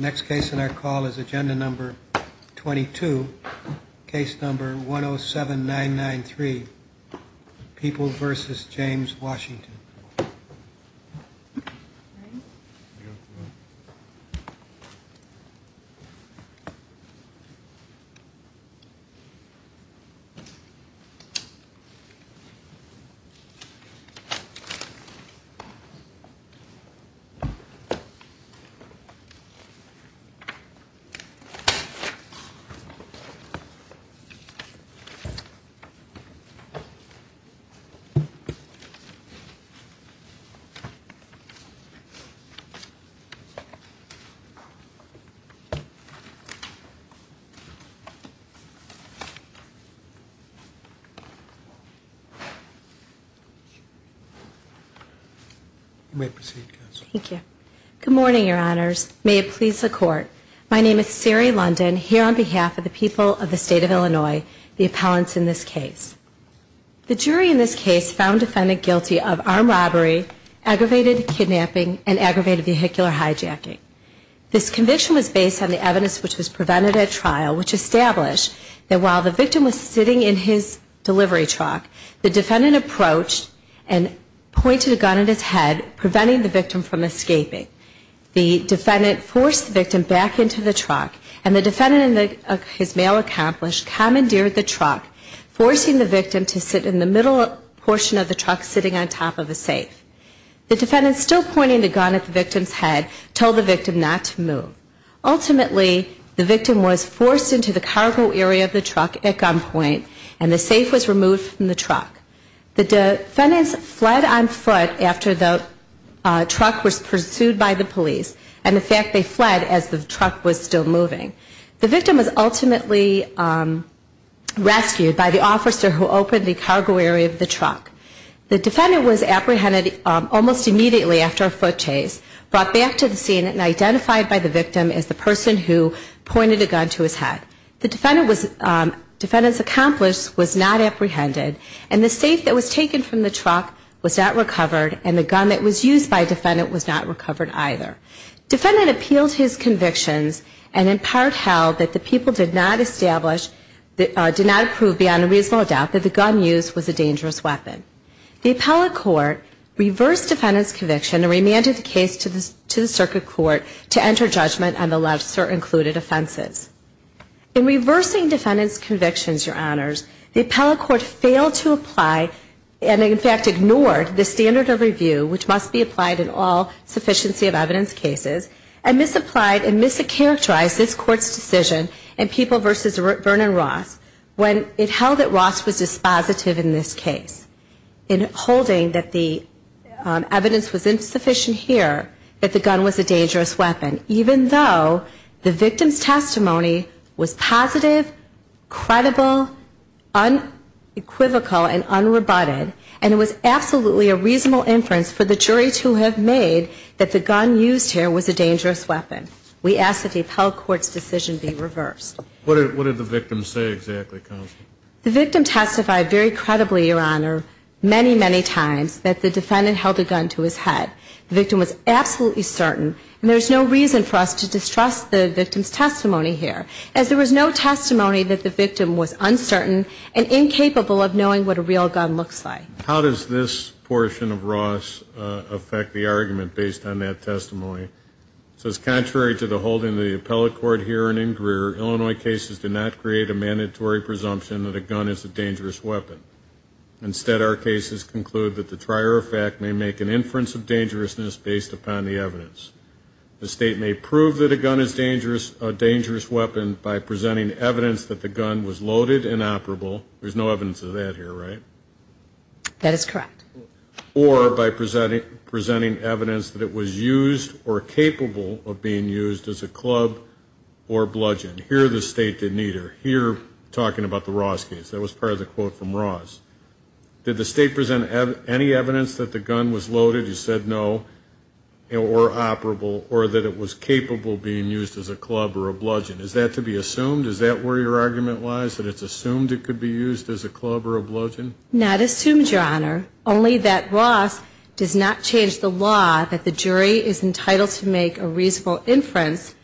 Next case in our call is agenda number 22, case number 107993, People v. James Washington. You may proceed, Counsel. Thank you. Good morning, Your Honors. May it please the Court. My name is Sari London, here on behalf of the people of the State of Illinois, the appellants in this case. The jury in this case found the defendant guilty of armed robbery, aggravated kidnapping, and aggravated vehicular hijacking. This conviction was based on the evidence which was prevented at trial, which established that while the victim was sitting in his delivery truck, the defendant approached and pointed a gun at his head, preventing the victim from escaping. The defendant forced the victim back into the truck, and the defendant in his mail accomplished commandeered the truck, forcing the victim to sit in the middle portion of the truck sitting on top of a safe. The defendant, still pointing the gun at the victim's head, told the victim not to move. Ultimately, the victim was forced into the cargo area of the truck at gunpoint, and the safe was removed from the truck. The defendants fled on foot after the truck was pursued by the police, and in fact they fled as the truck was still moving. The victim was ultimately rescued by the officer who opened the cargo area of the truck. The defendant was apprehended almost immediately after a foot chase, brought back to the scene, and identified by the victim as the person who pointed a gun to his head. The defendant's accomplice was not apprehended, and the safe that was taken from the truck was not recovered, and the gun that was used by the defendant was not recovered either. The defendant appealed his convictions, and in part held that the people did not approve beyond a reasonable doubt that the gun used was a dangerous weapon. The appellate court reversed the defendant's conviction and remanded the case to the circuit court to enter judgment on the lesser included offenses. In reversing the defendant's convictions, your honors, the appellate court failed to apply, and in fact ignored, the standard of review which must be applied in all sufficiency of evidence cases, and misapplied and mischaracterized this court's decision in People v. Vernon Ross when it held that Ross was dispositive in this case in holding that the evidence was insufficient here, that the gun was a dangerous weapon, even though the victim's testimony was positive, credible, unequivocal, and unrebutted, and it was absolutely a reasonable inference for the jury to have made that the gun used here was a dangerous weapon. We ask that the appellate court's decision be reversed. What did the victim say exactly, counsel? The victim testified very credibly, your honor, many, many times that the defendant held a gun in her hand. The victim was absolutely certain, and there's no reason for us to distrust the victim's testimony here, as there was no testimony that the victim was uncertain and incapable of knowing what a real gun looks like. How does this portion of Ross affect the argument based on that testimony? It says, contrary to the holding of the appellate court here in Ingrier, Illinois cases did not create a mandatory presumption that a gun is a dangerous weapon. Instead, our cases conclude that the trier of fact may make an inference of dangerousness based upon the evidence. The state may prove that a gun is a dangerous weapon by presenting evidence that the gun was loaded and operable. There's no evidence of that here, right? That is correct. Or by presenting evidence that it was used or capable of being used as a club or bludgeon. Here the state did neither. Here, talking about the Ross case, that was part of the quote from Ross. Did the state present any evidence that the gun was loaded, you said no, or operable, or that it was capable of being used as a club or a bludgeon? Is that to be assumed? Is that where your argument lies, that it's assumed it could be used as a club or a bludgeon? Not assumed, Your Honor. Only that Ross does not change the law that the jury is entitled to make a reasonable inference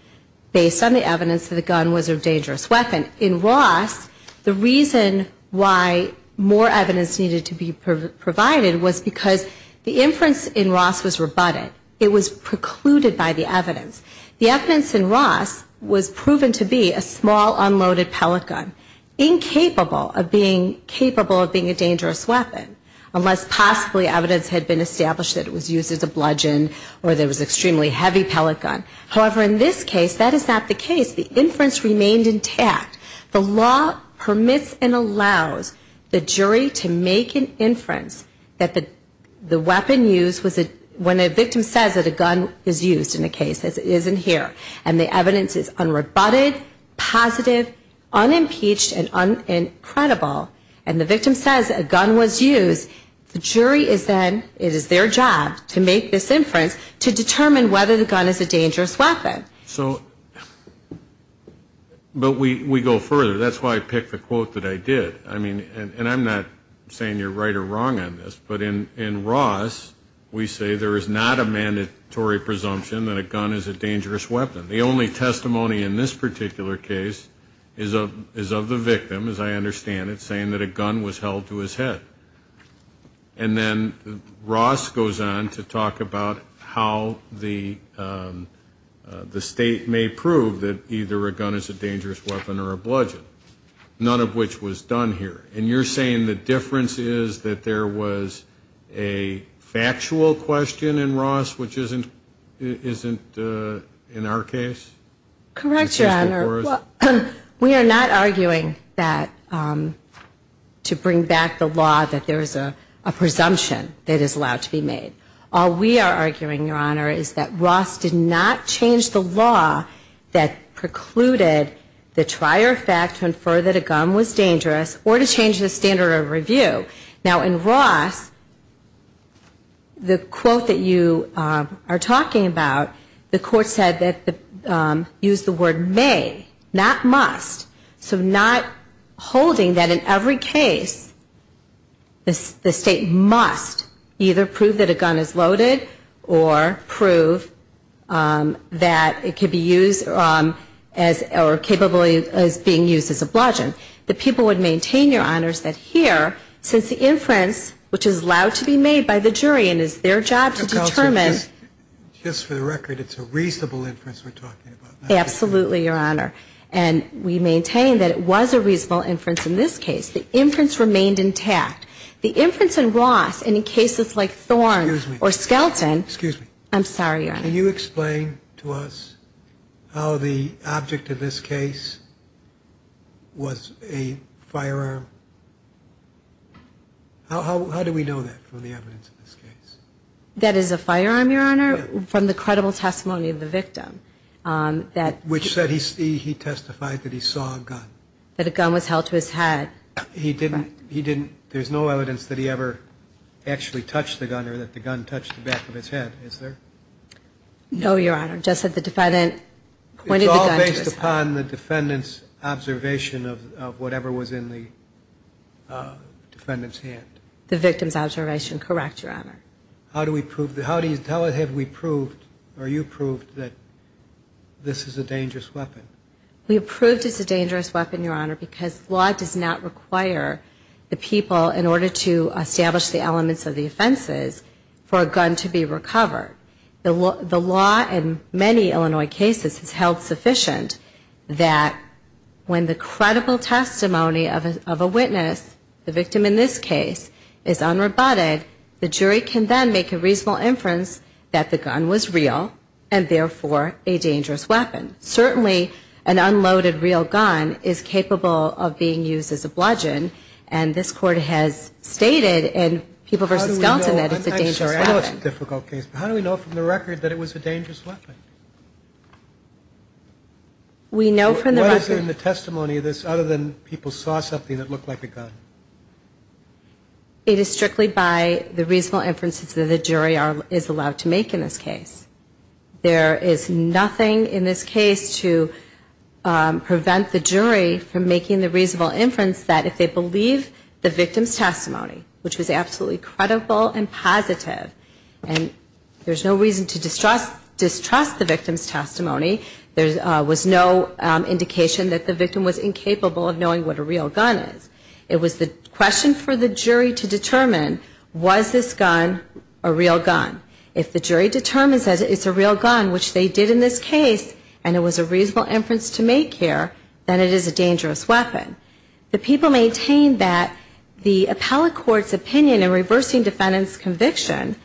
based on the evidence that the gun was a dangerous weapon. In Ross, the reason why more evidence needed to be provided was because the inference in Ross was rebutted. It was precluded by the evidence. The evidence in Ross was proven to be a small unloaded pellet gun, incapable of being capable of being a dangerous weapon, unless possibly evidence had been established that it was an extremely heavy pellet gun. However, in this case, that is not the case. The inference remained intact. The law permits and allows the jury to make an inference that the weapon used was a, when a victim says that a gun is used in a case, as it is in here, and the evidence is unrebutted, positive, unimpeached, and credible, and the victim says a gun was used, the jury is then, it is their job to make this inference to determine whether the gun is a dangerous weapon. So, but we go further. That's why I picked the quote that I did. I mean, and I'm not saying you're right or wrong on this, but in Ross, we say there is not a mandatory presumption that a gun is a dangerous weapon. The only testimony in this particular case is of the victim, as I understand it, saying that a gun was held to his head. And then Ross goes on to talk about how the state may prove that either a gun is a dangerous weapon or a bludgeon, none of which was done here. And you're saying the difference is that there was a factual question in Ross, which isn't in our case? Correct, Your Honor. We are not arguing that, to bring back the law, that there is a presumption that is allowed to be made. All we are arguing, Your Honor, is that Ross did not change the law that precluded the trier fact to infer that a gun was dangerous or to change the standard of review. Now, in Ross, the quote that you are talking about, the court said that, used the word may, not must. So not holding that in every case, the state must either prove that a gun is loaded or prove that it could be used or capable of being used as a bludgeon. The people would maintain, Your Honors, that here, since the inference, which is allowed to be made by the jury and is their job to determine. Just for the record, it's a reasonable inference we're talking about. Absolutely, Your Honor. And we maintain that it was a reasonable inference in this case. The inference remained intact. The inference in Ross, and in cases like Thorn or Skelton. Excuse me. I'm sorry, Your Honor. Can you explain to us how the object of this case was a firearm? How do we know that from the evidence of this case? That is a firearm, Your Honor, from the credible testimony of the victim. Which said he testified that he saw a gun. That a gun was held to his head. There's no evidence that he ever actually touched the gun or that the gun touched the head, is there? No, Your Honor. Just that the defendant pointed the gun to his head. It's all based upon the defendant's observation of whatever was in the defendant's hand. The victim's observation. Correct, Your Honor. How do we prove, how have we proved, or you proved, that this is a dangerous weapon? We have proved it's a dangerous weapon, Your Honor, because law does not require the people, in order to establish the elements of the offenses, for a gun to be recovered. The law in many Illinois cases has held sufficient that when the credible testimony of a witness, the victim in this case, is unrobotted, the jury can then make a reasonable inference that the gun was real and therefore a dangerous weapon. Certainly, an unloaded real gun is capable of being used as a bludgeon, and this Court has stated in People v. Skelton that it's a dangerous weapon. I know it's a difficult case, but how do we know from the record that it was a dangerous weapon? We know from the record... What is there in the testimony of this other than people saw something that looked like a gun? It is strictly by the reasonable inferences that the jury is allowed to make in this case. There is nothing in this case to prevent the jury from making the reasonable inference that if they believe the victim's testimony, which was absolutely credible and positive, and there's no reason to distrust the victim's testimony, there was no indication that the victim was incapable of knowing what a real gun is. It was the question for the jury to determine, was this gun a real gun? If the jury determines that it's a real gun, which they did in this case, and it was a reasonable inference to make here, then it is a dangerous weapon. The people maintained that the appellate court's opinion in reversing defendant's conviction,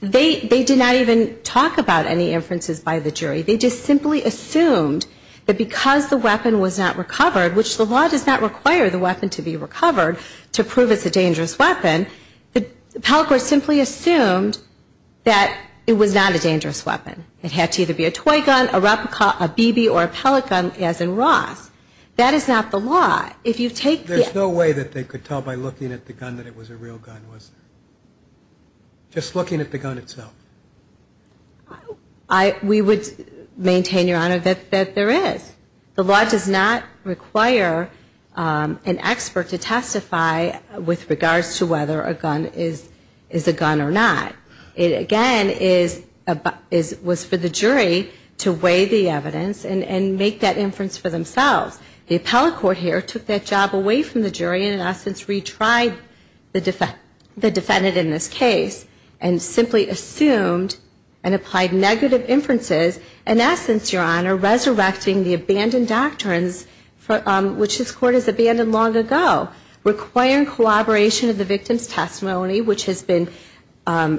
they did not even talk about any inferences by the jury. They just simply assumed that because the weapon was not recovered, which the law does not require the weapon to be recovered to prove it's a dangerous weapon, the appellate court simply assumed that it was not a dangerous weapon. It had to either be a toy gun, a replica, a BB, or a pellet gun, as in Ross. That is not the law. If you take the... There's no way that they could tell by looking at the gun that it was a real gun, was there? Just looking at the gun itself? We would maintain, Your Honor, that there is. The law does not require an expert to testify with regards to whether a gun is a gun or not. It, again, was for the jury to weigh the evidence and make that inference for themselves. The appellate court here took that job away from the jury and, in essence, retried the defendant in this case and simply assumed and applied negative inferences, in essence, Your Honor, resurrecting the abandoned doctrines which this Court has abandoned long ago, requiring collaboration of the victim's testimony, which has been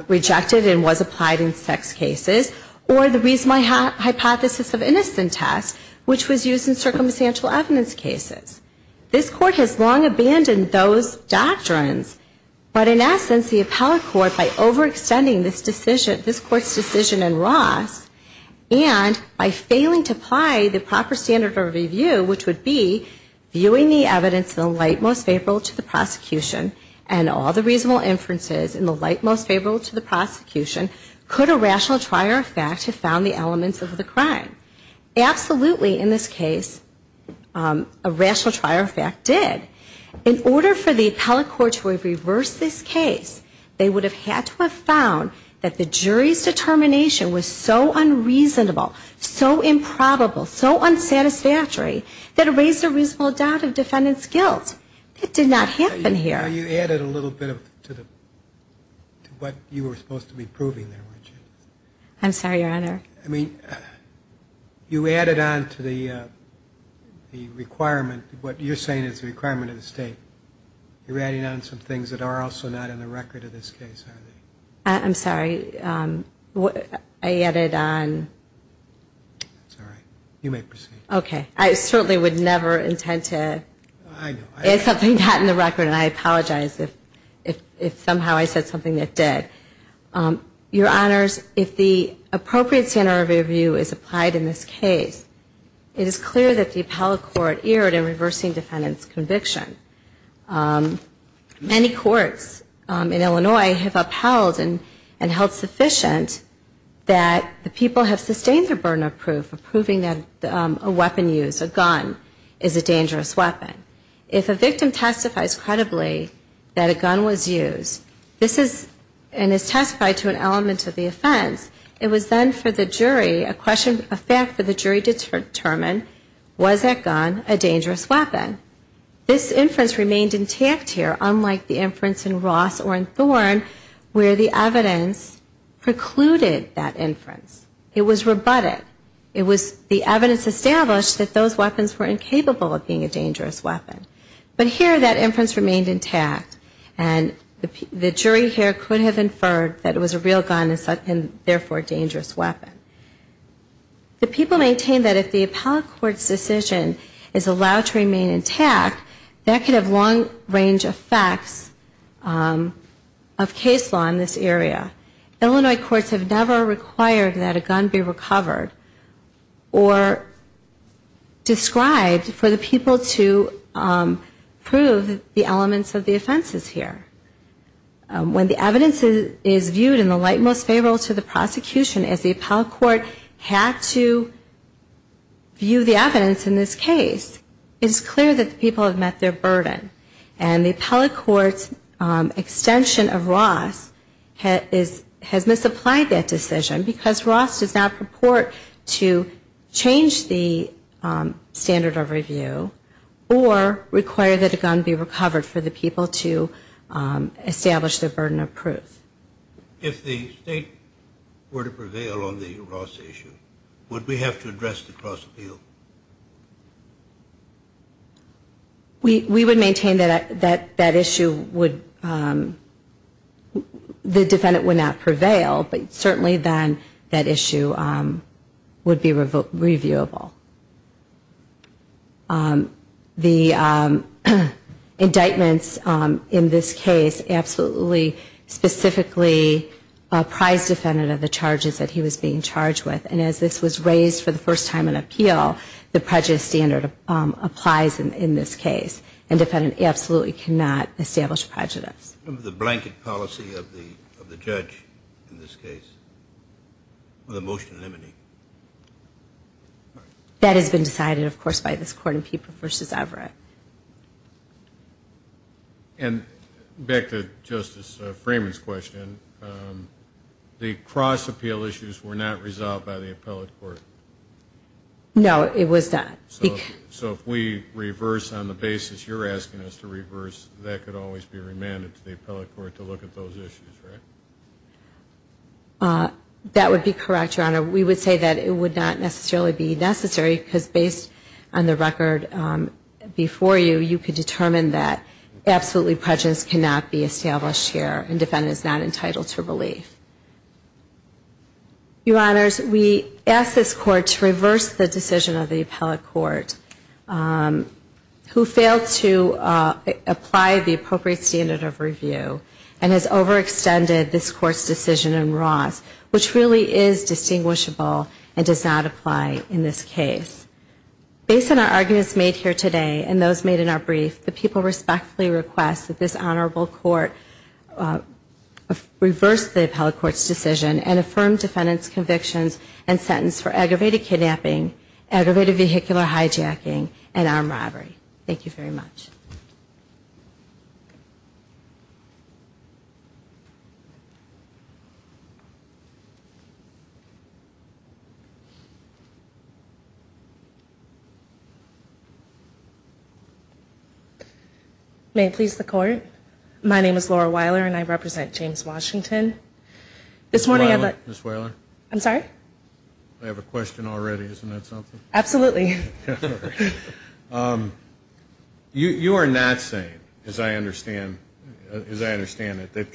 rejected and was applied in sex cases, or the reasonable hypothesis of innocent test, which was used in circumstantial evidence cases. This Court has long abandoned those doctrines, but, in essence, the appellate court, by overextending this Court's decision in Ross and by failing to apply the proper standard of review, which would be viewing the evidence in the light most favorable to the prosecution and all the reasonable inferences in the light most favorable to the prosecution, could a rational trier of fact have found the elements of the crime? Absolutely, in this case, a rational trier of fact did. In order for the appellate court to have reversed this case, they would have had to have found that the jury's determination was so unreasonable, so improbable, so unsatisfactory, that it raised a reasonable doubt of defendant's guilt. It did not happen here. You added a little bit to what you were supposed to be proving there, weren't you? I'm sorry, Your Honor. I mean, you added on to the requirement, what you're saying is the requirement of the State. You're adding on some things that are also not in the record of this case, aren't they? I'm sorry. I added on. That's all right. You may proceed. Okay. I certainly would never intend to add something not in the record, and I apologize if somehow I said something that did. Your Honors, if the appropriate standard of review is applied in this case, it is clear that the appellate court erred in reversing defendant's conviction. Many courts in Illinois have upheld and held sufficient that the people have sustained their burden of proof of proving that a weapon used, a gun, is a dangerous weapon. If a victim testifies credibly that a gun was used and is testified to an element of the offense, it was then for the jury, a fact for the jury to determine, was that gun a dangerous weapon? This inference remained intact here, unlike the inference in Ross or in Thorn, where the evidence precluded that inference. It was rebutted. It was the evidence established that those weapons were incapable of being a dangerous weapon. But here, that inference remained intact, and the jury here could have inferred that it was a real gun and therefore a dangerous weapon. The people maintain that if the appellate court's decision is allowed to remain intact, that could have long-range effects of case law in this area. Illinois courts have never required that a gun be recovered or described for the people to prove the elements of the offenses here. When the evidence is viewed in the light most favorable to the prosecution, as the appellate court had to view the evidence in this case, it's clear that the people have met their burden. And the appellate court's extension of Ross has misapplied that decision because Ross does not purport to change the standard of review or require that a gun be recovered for the people to establish their burden of proof. If the state were to prevail on the Ross issue, would we have to address the cross-appeal? We would maintain that that issue would, the defendant would not prevail, but certainly then that issue would be reviewable. The indictments in this case absolutely specifically apprised the defendant of the charges that this was raised for the first time in appeal, the prejudice standard applies in this case, and the defendant absolutely cannot establish prejudice. The blanket policy of the judge in this case, the motion limiting? That has been decided, of course, by this Court in Pieper v. Everett. And back to Justice Freeman's question, the cross-appeal issues were not resolved by the appellate court? No, it was not. So if we reverse on the basis you're asking us to reverse, that could always be remanded to the appellate court to look at those issues, right? That would be correct, Your Honor. We would say that it would not necessarily be necessary because based on the record before you, you could determine that absolutely prejudice cannot be established here and the defendant is not entitled to relief. Your Honors, we ask this Court to reverse the decision of the appellate court who failed to apply the appropriate standard of review and has overextended this Court's decision in Ross, which really is distinguishable and does not apply in this case. Based on our arguments made here today and those made in our brief, the people respectfully request that this Honorable Court reverse the appellate court's decision and affirm defendant's convictions and sentence for aggravated kidnapping, aggravated vehicular hijacking and armed robbery. Thank you very much. May it please the Court, my name is Laura Weiler and I represent James Washington. This morning I'd like... Ms. Weiler, Ms. Weiler. I'm sorry? I have a question already, isn't that something? Absolutely. You are not saying, as I understand it, that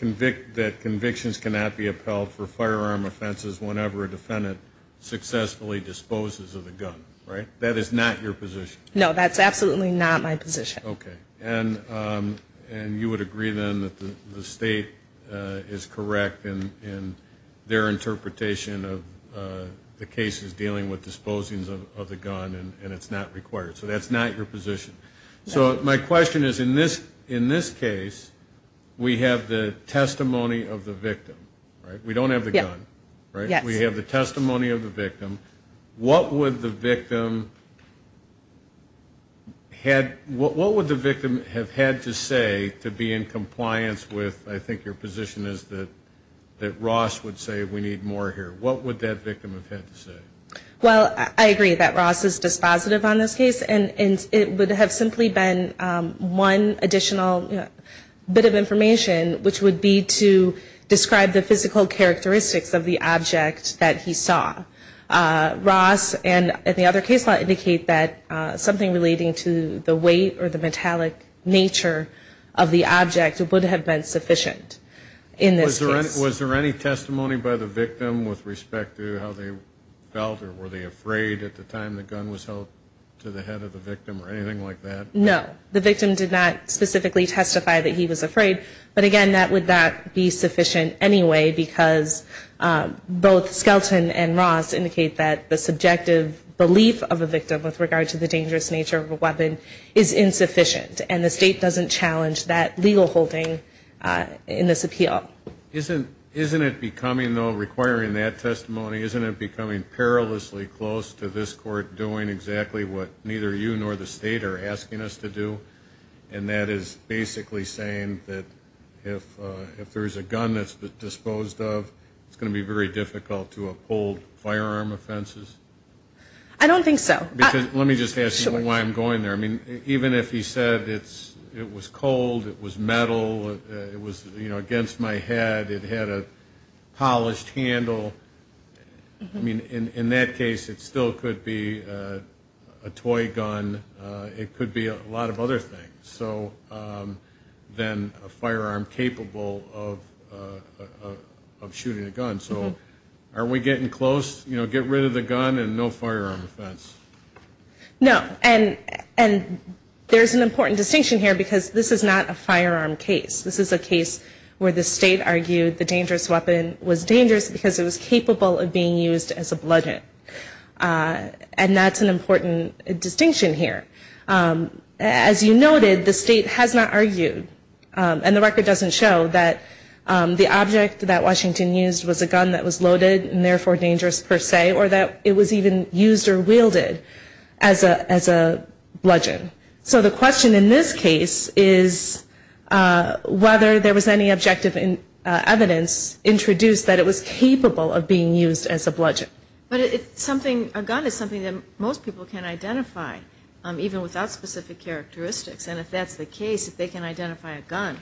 convictions cannot be appelled for firearm offenses whenever a defendant successfully disposes of the gun, right? That is not your position. No, that's absolutely not my position. Okay. And you would agree then that the State is correct in their interpretation of the gun and it's not required. So that's not your position. So my question is in this case we have the testimony of the victim, right? We don't have the gun, right? Yes. We have the testimony of the victim. What would the victim have had to say to be in compliance with, I think your position is that Ross would say we need more here. What would that victim have had to say? Well, I agree that Ross is dispositive on this case and it would have simply been one additional bit of information which would be to describe the physical characteristics of the object that he saw. Ross and the other case law indicate that something relating to the weight or the metallic nature of the object would have been sufficient in this case. Was there any testimony by the victim with respect to how they felt or were they afraid at the time the gun was held to the head of the victim or anything like that? No. The victim did not specifically testify that he was afraid. But again, that would not be sufficient anyway because both Skelton and Ross indicate that the subjective belief of a victim with regard to the dangerous nature of a weapon is insufficient and the State doesn't challenge that legal holding in this appeal. Isn't it becoming though, requiring that testimony, isn't it becoming perilously close to this Court doing exactly what neither you nor the State are asking us to do and that is basically saying that if there's a gun that's disposed of, it's going to be very difficult to uphold firearm offenses? I don't think so. Let me just ask you why I'm going there. Even if he said it was cold, it was metal, it was my head, it had a polished handle, I mean in that case it still could be a toy gun, it could be a lot of other things than a firearm capable of shooting a gun. So are we getting close, you know, get rid of the gun and no firearm offense? No. And there's an important distinction here because this is not a firearm case. This is a case where the State argued the dangerous weapon was dangerous because it was capable of being used as a bludgeon and that's an important distinction here. As you noted, the State has not argued and the record doesn't show that the object that Washington used was a gun that was loaded and therefore dangerous per se or that it was even used or wielded as a bludgeon. So the question in this case is whether there was any objective evidence introduced that it was capable of being used as a bludgeon. But a gun is something that most people can identify even without specific characteristics and if that's the case, if they can identify a gun,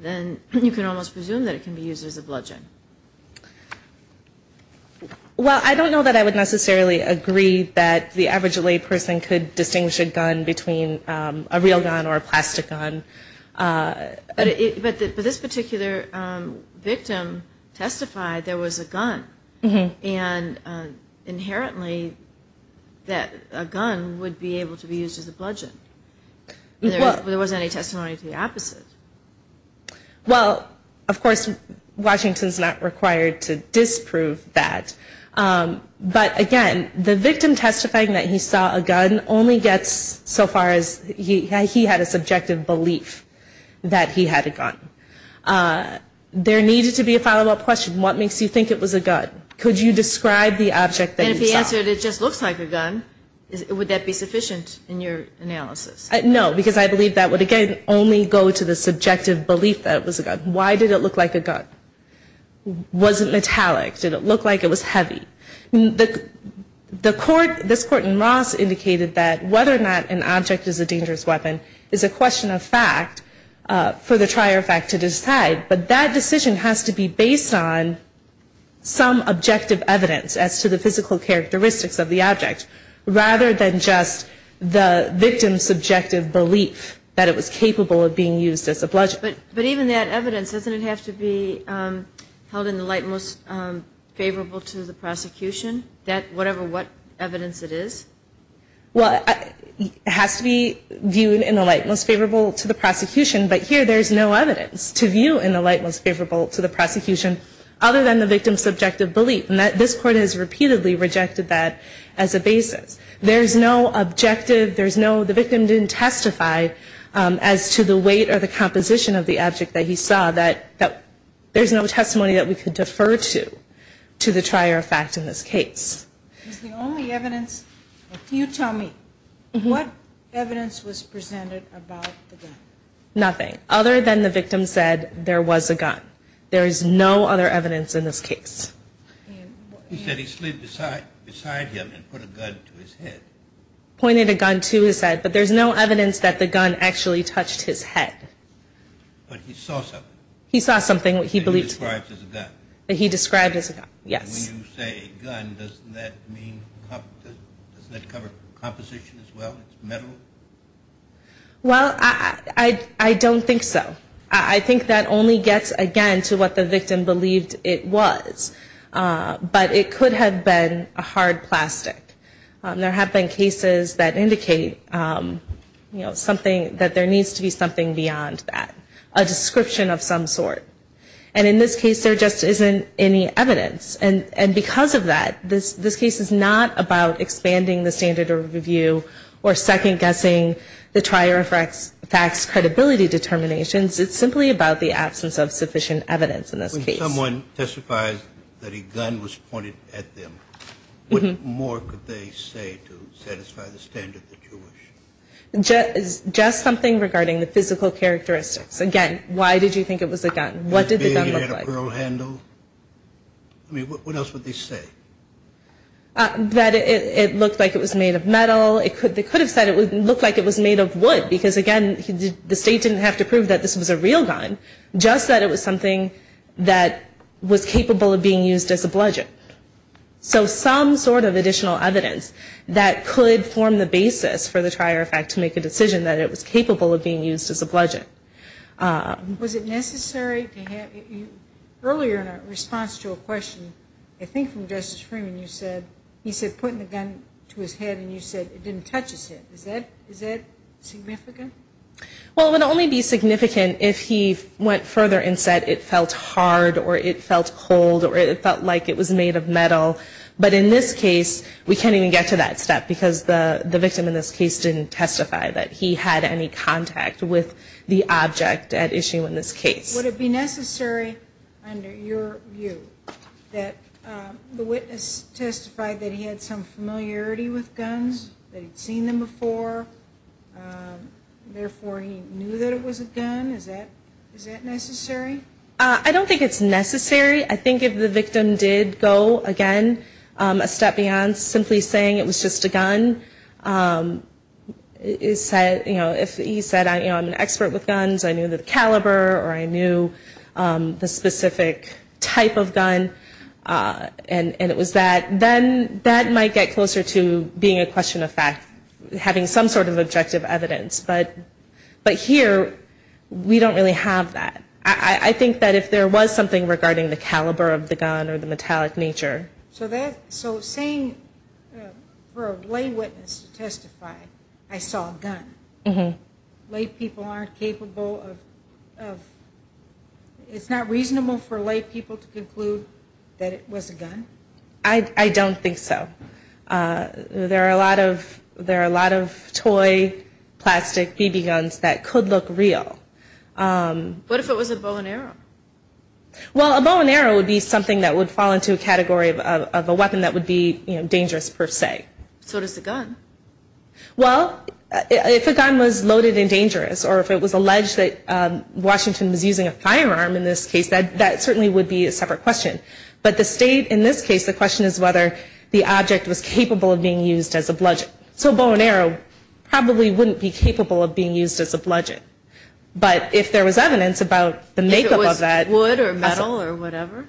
then you can almost presume that it can be used as a bludgeon. Well I don't know that I would necessarily agree that the average layperson could distinguish a gun between a real gun or a plastic gun. But this particular victim testified there was a gun and inherently that a gun would be able to be used as a bludgeon. There wasn't any testimony to the opposite. Well of course Washington's not required to disprove that. But again, the victim testifying that he saw a gun only gets so far as he had a subjective belief that he had a gun. There needed to be a follow-up question. What makes you think it was a gun? Could you describe the object that you saw? And if he answered it just looks like a gun, would that be sufficient in your analysis? No, because I believe that would again only go to the subjective belief that it was a gun. Why did it look like a gun? Was it metallic? Did it look like it was heavy? The court, this court in Ross indicated that whether or not an object is a dangerous weapon is a question of fact for the trier of fact to decide. But that decision has to be based on some objective evidence as to the physical characteristics of the object rather than just the victim's subjective belief that it was capable of being used as a bludgeon. But even that evidence, doesn't it have to be held in the light most favorable to the prosecution? Whatever evidence it is? Well it has to be viewed in the light most favorable to the prosecution, but here there is no evidence to view in the light most favorable to the prosecution other than the victim's subjective belief. This court has repeatedly rejected that as a basis. There is no objective, there is no, the victim didn't testify as to the weight or the composition of the object that he saw that there is no testimony that we could defer to to the trier of fact in this case. Is the only evidence, you tell me, what evidence was presented about the gun? Nothing other than the victim said there was a gun. There is no other evidence in this case. He said he slid beside him and put a gun to his head. Pointed a gun to his head, but there is no evidence that the gun actually touched his head. But he saw something? He saw something he believed to be. That he described as a gun? He described as a gun, yes. When you say gun, doesn't that mean, doesn't that cover composition as well? It's metal? Well I don't think so. I think that only gets again to what the victim believed it was. But it could have been a hard plastic. There have been cases that indicate something that there needs to be something beyond that. A description of some sort. And in this case there just isn't any evidence. And because of that, this case is not about expanding the standard of review or second guessing the trier of facts credibility determinations. It's simply about the absence of sufficient evidence in this case. If someone testifies that a gun was pointed at them, what more could they say to satisfy the standard of the Jewish? Just something regarding the physical characteristics. Again, why did you think it was a gun? What did the gun look like? Did it have a pearl handle? I mean, what else would they say? That it looked like it was made of metal. They could have said it looked like it was made of wood. Because again, the state didn't have to prove that this was a real gun. Just that it was something that was capable of being used as a bludgeon. So some sort of additional evidence that could form the basis for the trier of facts to make a decision that it was capable of being used as a bludgeon. Was it necessary to have, earlier in our response to a question, I think from Justice Freeman, you said, he said putting the gun to his head and you said it didn't touch his head. Is that significant? Well, it would only be significant if he went further and said it felt hard or it felt cold or it felt like it was made of metal. But in this case, we can't even get to that step because the victim in this case didn't testify that he had any contact with the object at issue in this case. Would it be necessary, under your view, that the witness testified that he had some familiarity with guns, that he'd seen them before, therefore he knew that it was a gun? Is that necessary? I don't think it's necessary. I think if the victim did go, again, a step beyond simply saying it was just a gun, you know, if he said I'm an expert with guns, I knew the caliber or I knew the specific type of gun and it was that, then that might get closer to the being a question of fact, having some sort of objective evidence. But here, we don't really have that. I think that if there was something regarding the caliber of the gun or the metallic nature. So saying for a lay witness to testify, I saw a gun, lay people aren't capable of, it's not reasonable for lay people to conclude that it was a gun? I don't think so. There are a lot of toy plastic BB guns that could look real. What if it was a bow and arrow? Well, a bow and arrow would be something that would fall into a category of a weapon that would be dangerous per se. So does a gun? Well, if a gun was loaded and dangerous or if it was alleged that Washington was using a firearm in this case, that certainly would be a separate question. But the state in this case, the question is whether the object was capable of being used as a bludgeon. So a bow and arrow probably wouldn't be capable of being used as a bludgeon. But if there was evidence about the make up of that. If it was wood or metal or whatever?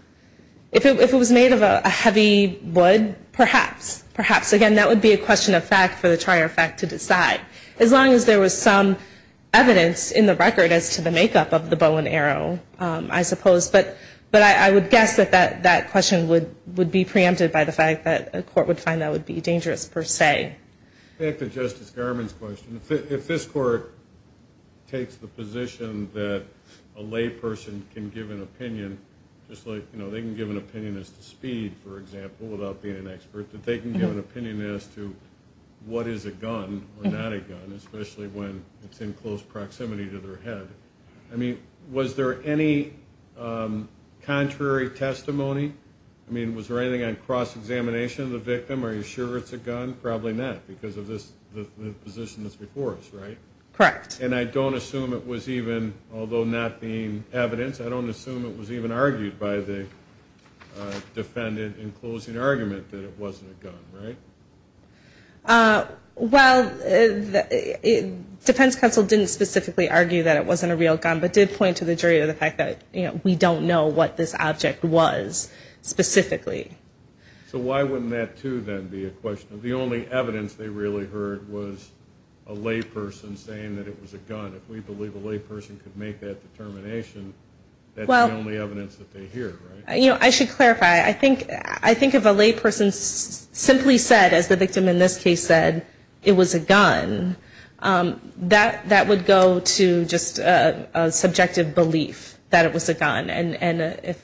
If it was made of a heavy wood, perhaps. Perhaps. Again, that would be a question of fact for the trier of fact to decide. As long as there was some evidence in the record as to the be preempted by the fact that a court would find that would be dangerous per se. Back to Justice Garmon's question. If this court takes the position that a lay person can give an opinion, just like they can give an opinion as to speed, for example, without being an expert, that they can give an opinion as to what is a gun or not a gun, especially when it's in close proximity to their head. Was there any contrary testimony? Was there anything on cross-examination of the victim? Are you sure it's a gun? Probably not because of the position that's before us, right? Correct. And I don't assume it was even, although not being evidence, I don't assume it was even argued by the defendant in closing argument that it wasn't a gun, right? Well, defense counsel didn't specifically argue that it wasn't a real gun, but did point to the jury of the fact that we don't know what this object was specifically. So why wouldn't that, too, then be a question? The only evidence they really heard was a lay person saying that it was a gun. If we believe a lay person could make that determination, that's the only evidence that they hear, right? I should clarify. I think if a lay person simply said, as the victim in this case said, it was a gun, that would go to just a subjective belief that it was a gun. And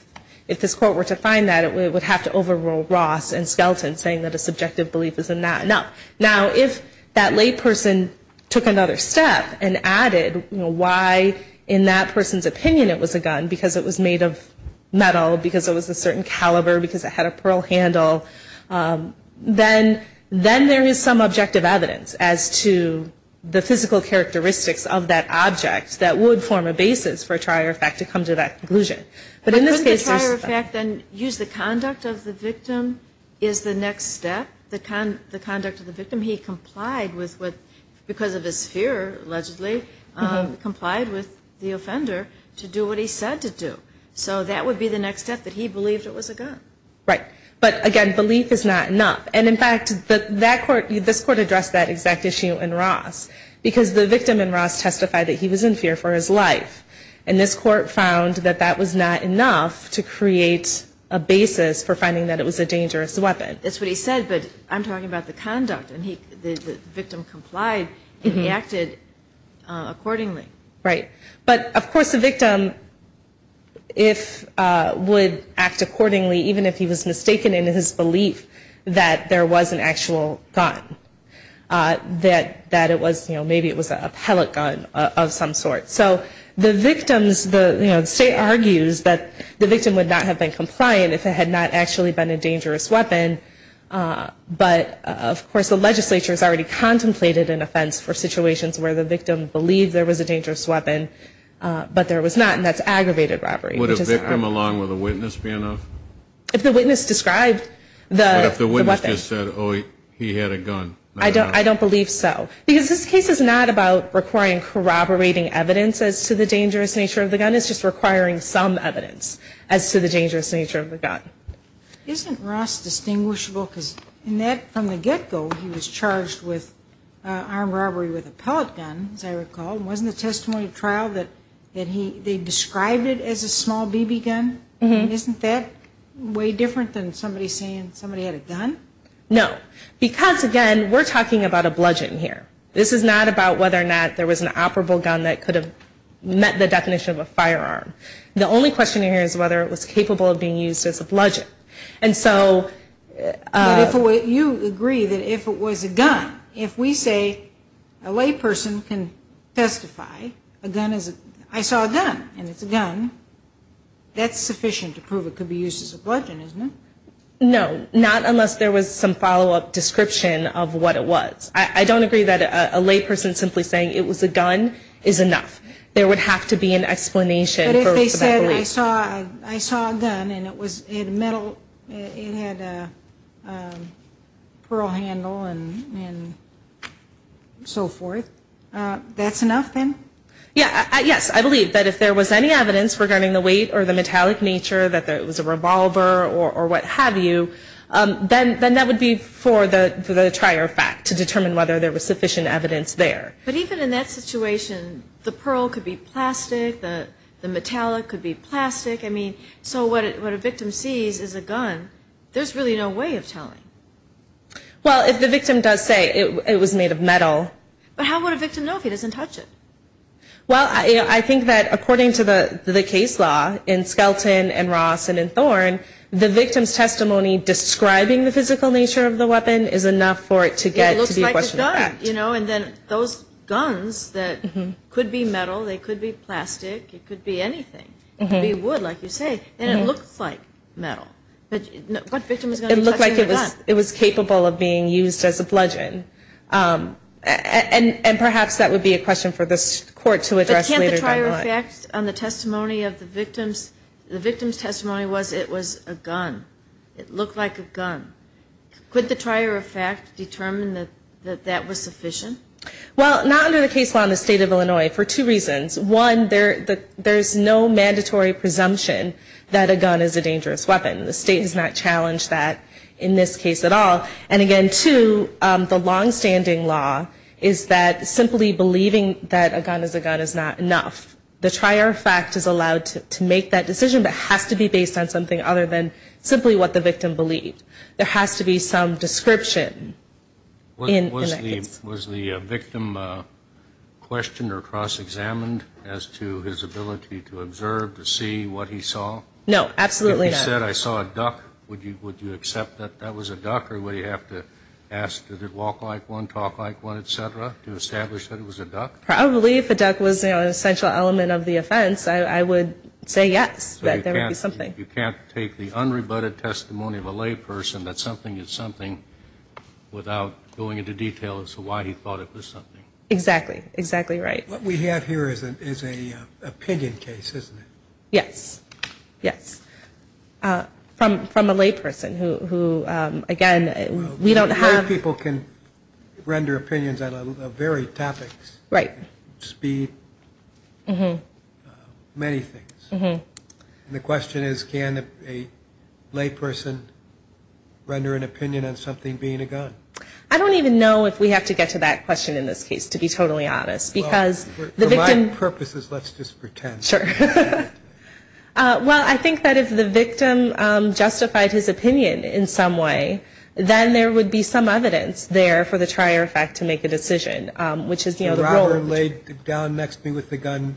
if this court were to find that, it would have to overrule Ross and Skelton saying that a subjective belief is in that. Now if that lay person took another step and added why in that person's opinion it was a gun, because it was made of metal, because it was a certain caliber, because it had a subjective evidence as to the physical characteristics of that object, that would form a basis for a trier of fact to come to that conclusion. But wouldn't the trier of fact then use the conduct of the victim as the next step? The conduct of the victim, he complied with, because of his fear, allegedly, complied with the offender to do what he said to do. So that would be the next step, that he believed it was a gun. Right. But again, belief is not enough. And in fact, that court, this court addressed that exact issue in Ross, because the victim in Ross testified that he was in fear for his life. And this court found that that was not enough to create a basis for finding that it was a dangerous weapon. That's what he said, but I'm talking about the conduct, and the victim complied and he acted accordingly. Right. But of course, the victim, if, would act accordingly, even if he was mistaken in his belief that there was an actual gun. That it was, you know, maybe it was a pellet gun of some sort. So the victims, the state argues that the victim would not have been compliant if it had not actually been a dangerous weapon. But of course, the legislature has already said that it was a dangerous weapon, but there was not, and that's aggravated robbery. Would a victim along with a witness be enough? If the witness described the weapon. But if the witness just said, oh, he had a gun, not a gun. I don't believe so. Because this case is not about requiring corroborating evidence as to the dangerous nature of the gun. It's just requiring some evidence as to the dangerous nature of the gun. Isn't Ross distinguishable? Because in that, from the get-go, he was charged with armed robbery, and in the testimony of trial, that he, they described it as a small BB gun. Isn't that way different than somebody saying somebody had a gun? No. Because again, we're talking about a bludgeon here. This is not about whether or not there was an operable gun that could have met the definition of a firearm. The only question here is whether it was capable of being used as a bludgeon. And so. But if you agree that if it was a gun, if we say a layperson can testify, a gun is a, I saw a gun, and it's a gun, that's sufficient to prove it could be used as a bludgeon, isn't it? No. Not unless there was some follow-up description of what it was. I don't agree that a layperson simply saying it was a gun is enough. There would have to be an explanation for that belief. I saw a gun, and it was, it had a metal, it had a pearl handle and so forth. That's enough then? Yes. I believe that if there was any evidence regarding the weight or the metallic nature, that it was a revolver or what have you, then that would be for the trier fact, to determine whether there was sufficient evidence there. But even in that situation, the pearl could be plastic, the metallic could be plastic. I mean, so what a victim sees is a gun. There's really no way of telling. Well, if the victim does say it was made of metal. But how would a victim know if he doesn't touch it? Well, I think that according to the case law in Skelton and Ross and in Thorne, the victim's testimony describing the physical nature of the weapon is enough for it to get to be a question of fact. Right. You know, and then those guns that could be metal, they could be plastic, it could be anything. It could be wood, like you say. And it looks like metal. But what victim is going to be touching a gun? It looked like it was capable of being used as a bludgeon. And perhaps that would be a question for this Court to address later. But can't the trier of fact on the testimony of the victim's, the victim's testimony was it was a gun. It looked like a gun. Could the trier of fact determine that that was sufficient? Well, not under the case law in the state of Illinois for two reasons. One, there's no mandatory presumption that a gun is a dangerous weapon. The state has not challenged that in this case at all. And again, two, the longstanding law is that simply believing that a gun is a gun is not enough. The trier of fact is allowed to make that decision, but has to be based on something other than simply what the victim believed. There has to be some description in that case. Was the victim questioned or cross-examined as to his ability to observe, to see what he saw? No, absolutely not. If he said, I saw a duck, would you accept that that was a duck? Or would he have to ask, did it walk like one, talk like one, et cetera, to establish that it was a duck? Probably if a duck was an essential element of the offense, I would say yes, that there would be something. You can't take the unrebutted testimony of a layperson that something is something without going into detail as to why he thought it was something. Exactly. Exactly right. What we have here is an opinion case, isn't it? Yes. Yes. From a layperson who, again, we don't have... People can render opinions on a varied topics, speed, many things. And the question is, can a layperson render an opinion on something being a gun? I don't even know if we have to get to that question in this case, to be totally honest, because the victim... For my purposes, let's just pretend. Sure. Well, I think that if the victim justified his opinion in some way, then there would be some evidence there for the trier effect to make a decision, which is the role... Down next to me with the gun,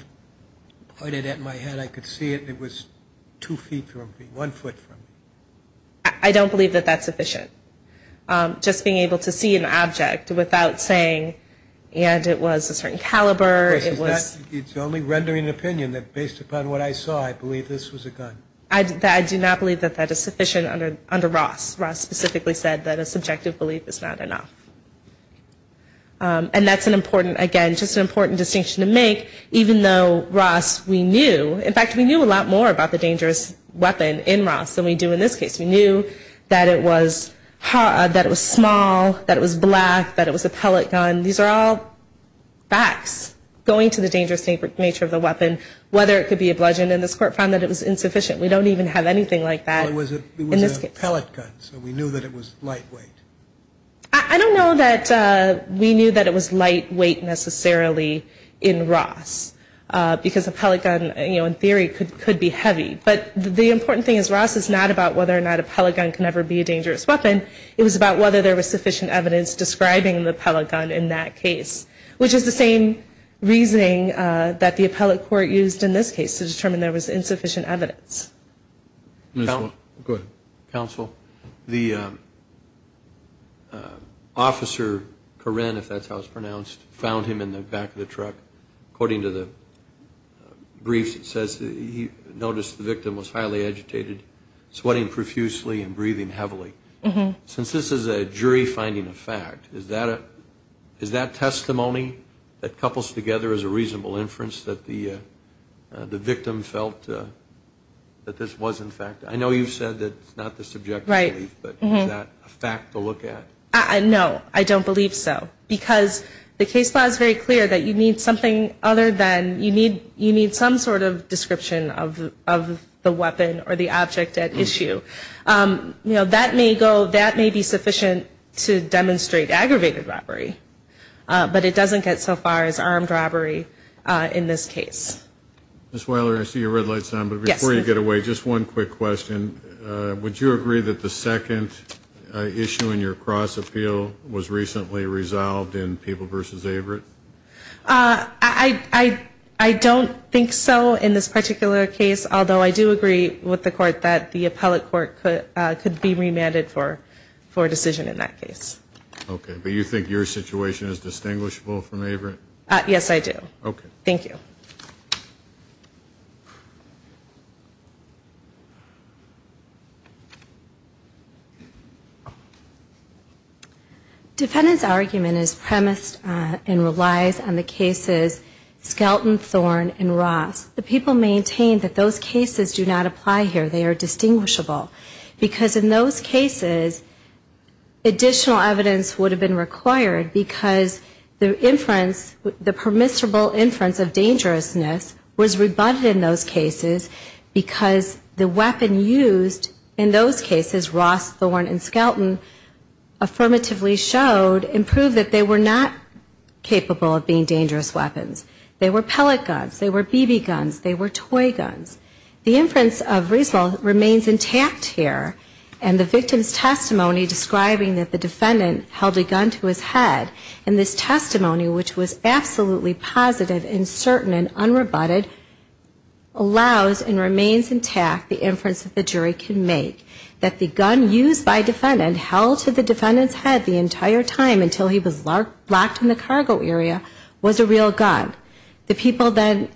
pointed at my head, I could see it, and it was two feet from me, one foot from me. I don't believe that that's sufficient. Just being able to see an object without saying, and it was a certain caliber, it was... It's only rendering an opinion that based upon what I saw, I believe this was a gun. I do not believe that that is sufficient under Ross. Ross specifically said that a subjective belief is not enough. And that's an important, again, just an important distinction to make, even though Ross, we knew, in fact, we knew a lot more about the dangerous weapon in Ross than we do in this case. We knew that it was small, that it was black, that it was a pellet gun. These are all facts going to the dangerous nature of the weapon, whether it could be a bludgeon. And this court found that it was insufficient. We don't even have anything like that. Well, it was a pellet gun, so we knew that it was lightweight. I don't know that we knew that it was lightweight, necessarily, in Ross, because a pellet gun, you know, in theory, could be heavy. But the important thing is Ross is not about whether or not a pellet gun can ever be a dangerous weapon. It was about whether there was sufficient evidence describing the pellet gun in that case, which is the same reasoning that the appellate court used in this case to determine there was insufficient evidence. Counsel, the officer, Corrine, if that's how it's pronounced, found him in the back of the truck. According to the briefs, it says he noticed the victim was highly agitated, sweating profusely and breathing heavily. Since this is a jury finding of fact, is that a fact? No, I don't believe so. Because the case law is very clear that you need something other than you need some sort of description of the weapon or the object at issue. You know, that may be sufficient to demonstrate aggravated robbery, but it doesn't get so far as armed robbery in this case. Ms. Weiler, I see your red light is on, but before you get away, just one quick question. Would you agree that the second issue in your cross appeal was recently resolved in Peeble v. Averitt? I don't think so in this particular case, although I do agree with the court that the appellate court could be remanded for a decision in that case. Okay, but you think your situation is distinguishable from Averitt? Yes, I do. Thank you. Defendant's argument is premised and relies on the cases Skelton, Thorne and Ross. The people maintained that those cases do not apply here. They are distinguishable. Because in those cases, additional evidence would have been required because the inference, the permissible inference of dangerousness was rebutted in those cases because the weapon used in those cases, Ross, Thorne and Skelton, affirmatively showed and proved that they were not capable of being dangerous weapons. They were pellet guns. They were BB guns. They were toy guns. The inference of Riesveld remains intact here, and the victim's testimony describing that the defendant held a gun to his head in this testimony, which was absolutely positive and certain and unrebutted, allows and remains intact the inference that the jury can make that the gun used by defendant held to the defendant's head the entire time until he was locked in the cargo area was a real gun. The people then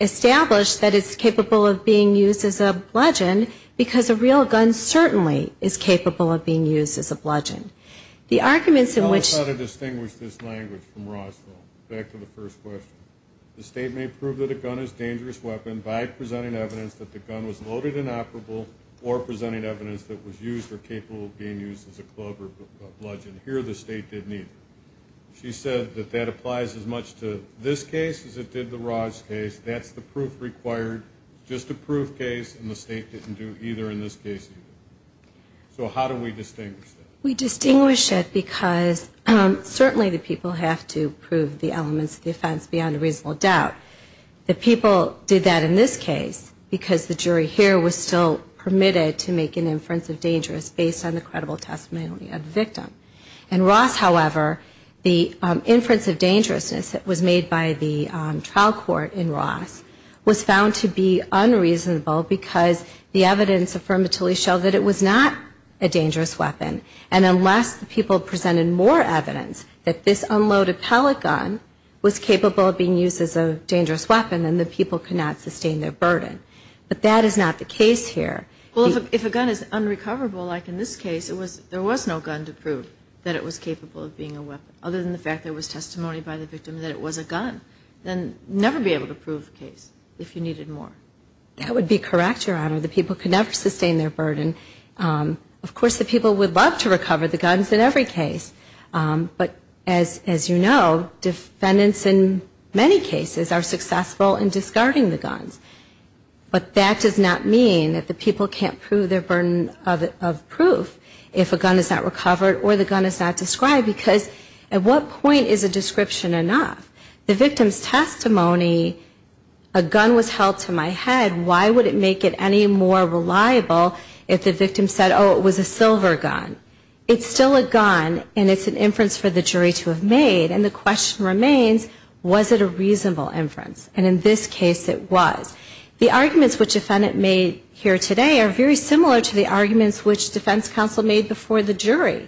established that it's capable of being used as a bludgeon because a real gun certainly is capable of being used as a bludgeon. The arguments in which... Can you tell us how to distinguish this language from Ross, Thorne? Back to the first question. The State may prove that a gun is a dangerous weapon by presenting evidence that the gun was loaded and operable or presenting evidence that it was used or capable of being used as a club or a bludgeon. Here the State didn't either. She said that that applies as much to this case as it did the Ross case. That's the proof required, just a proof case, and the State didn't do either in this case either. So how do we distinguish that? We distinguish it because certainly the people have to prove the elements of the offense beyond a reasonable doubt. The people did that in this case because the jury here was still permitted to make an inference of dangerous based on the credible testimony of the victim. In Ross, however, the inference of dangerousness that was made by the trial court in Ross was found to be unreasonable because the evidence affirmatively showed that it was not a dangerous weapon. And unless the people presented more evidence that this unloaded pellet gun was capable of being used as a dangerous weapon, then the people could not sustain their burden. But that is not the case here. Well, if a gun is unrecoverable, like in this case, there was no gun to prove that it was capable of being a weapon, other than the fact there was testimony by the victim that it was a gun, then never be able to prove the case if you needed more. That would be correct, Your Honor. The people could never sustain their burden. Of course, the people would love to recover the guns in every case. But as you know, defendants in many cases are successful in discarding the guns. But that does not mean that the people can't prove their burden of proof if a gun is not recovered or the gun is not described. Because at what point is a description enough? The victim's testimony, a gun was held to my head, why would it make it any more reliable if the victim said, oh, it was a silver gun? It's still a gun and it's an inference for the jury to have made. And the question remains, was it a reasonable inference? And in this case, it was. The arguments which a defendant made here today are very similar to the arguments which the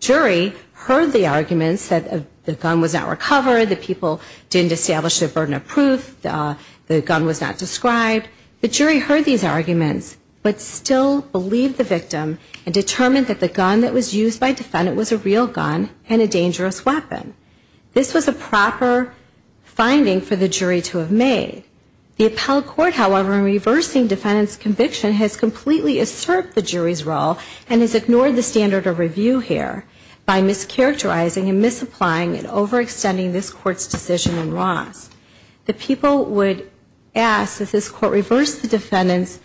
jury heard the arguments that the gun was not recovered, the people didn't establish their burden of proof, the gun was not described. The jury heard these arguments but still believed the victim and determined that the gun that was used by the defendant was a real gun and a dangerous weapon. This was a proper finding for the jury to have made. The appellate court, however, in reversing the defendant's conviction has completely usurped the jury's role and has ignored the standard of review here by mischaracterizing and misapplying and overextending this Court's decision in Ross. The people would ask, does this Court reverse the defendant's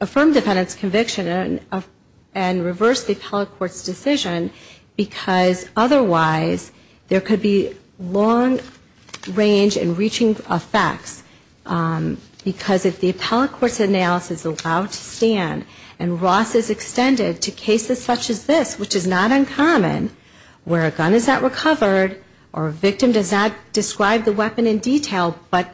affirm defendant's conviction and reverse the appellate court's decision because otherwise there could be long range and reaching effects because if the appellate court's analysis is allowed to stand and Ross is extended to cases such as this, which is not uncommon, where a gun is not recovered or a victim does not describe the weapon in detail but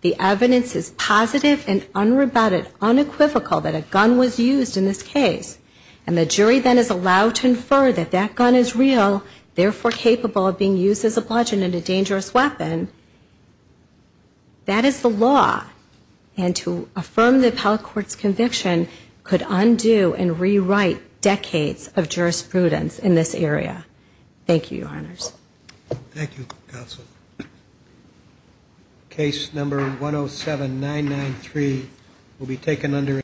the evidence is positive and unrebutted, unequivocal that a gun was used in this case and the jury then is allowed to infer that that gun is real, therefore capable of being used as a result of the appellate court's conviction could undo and rewrite decades of jurisprudence in this area. Thank you, Your Honors.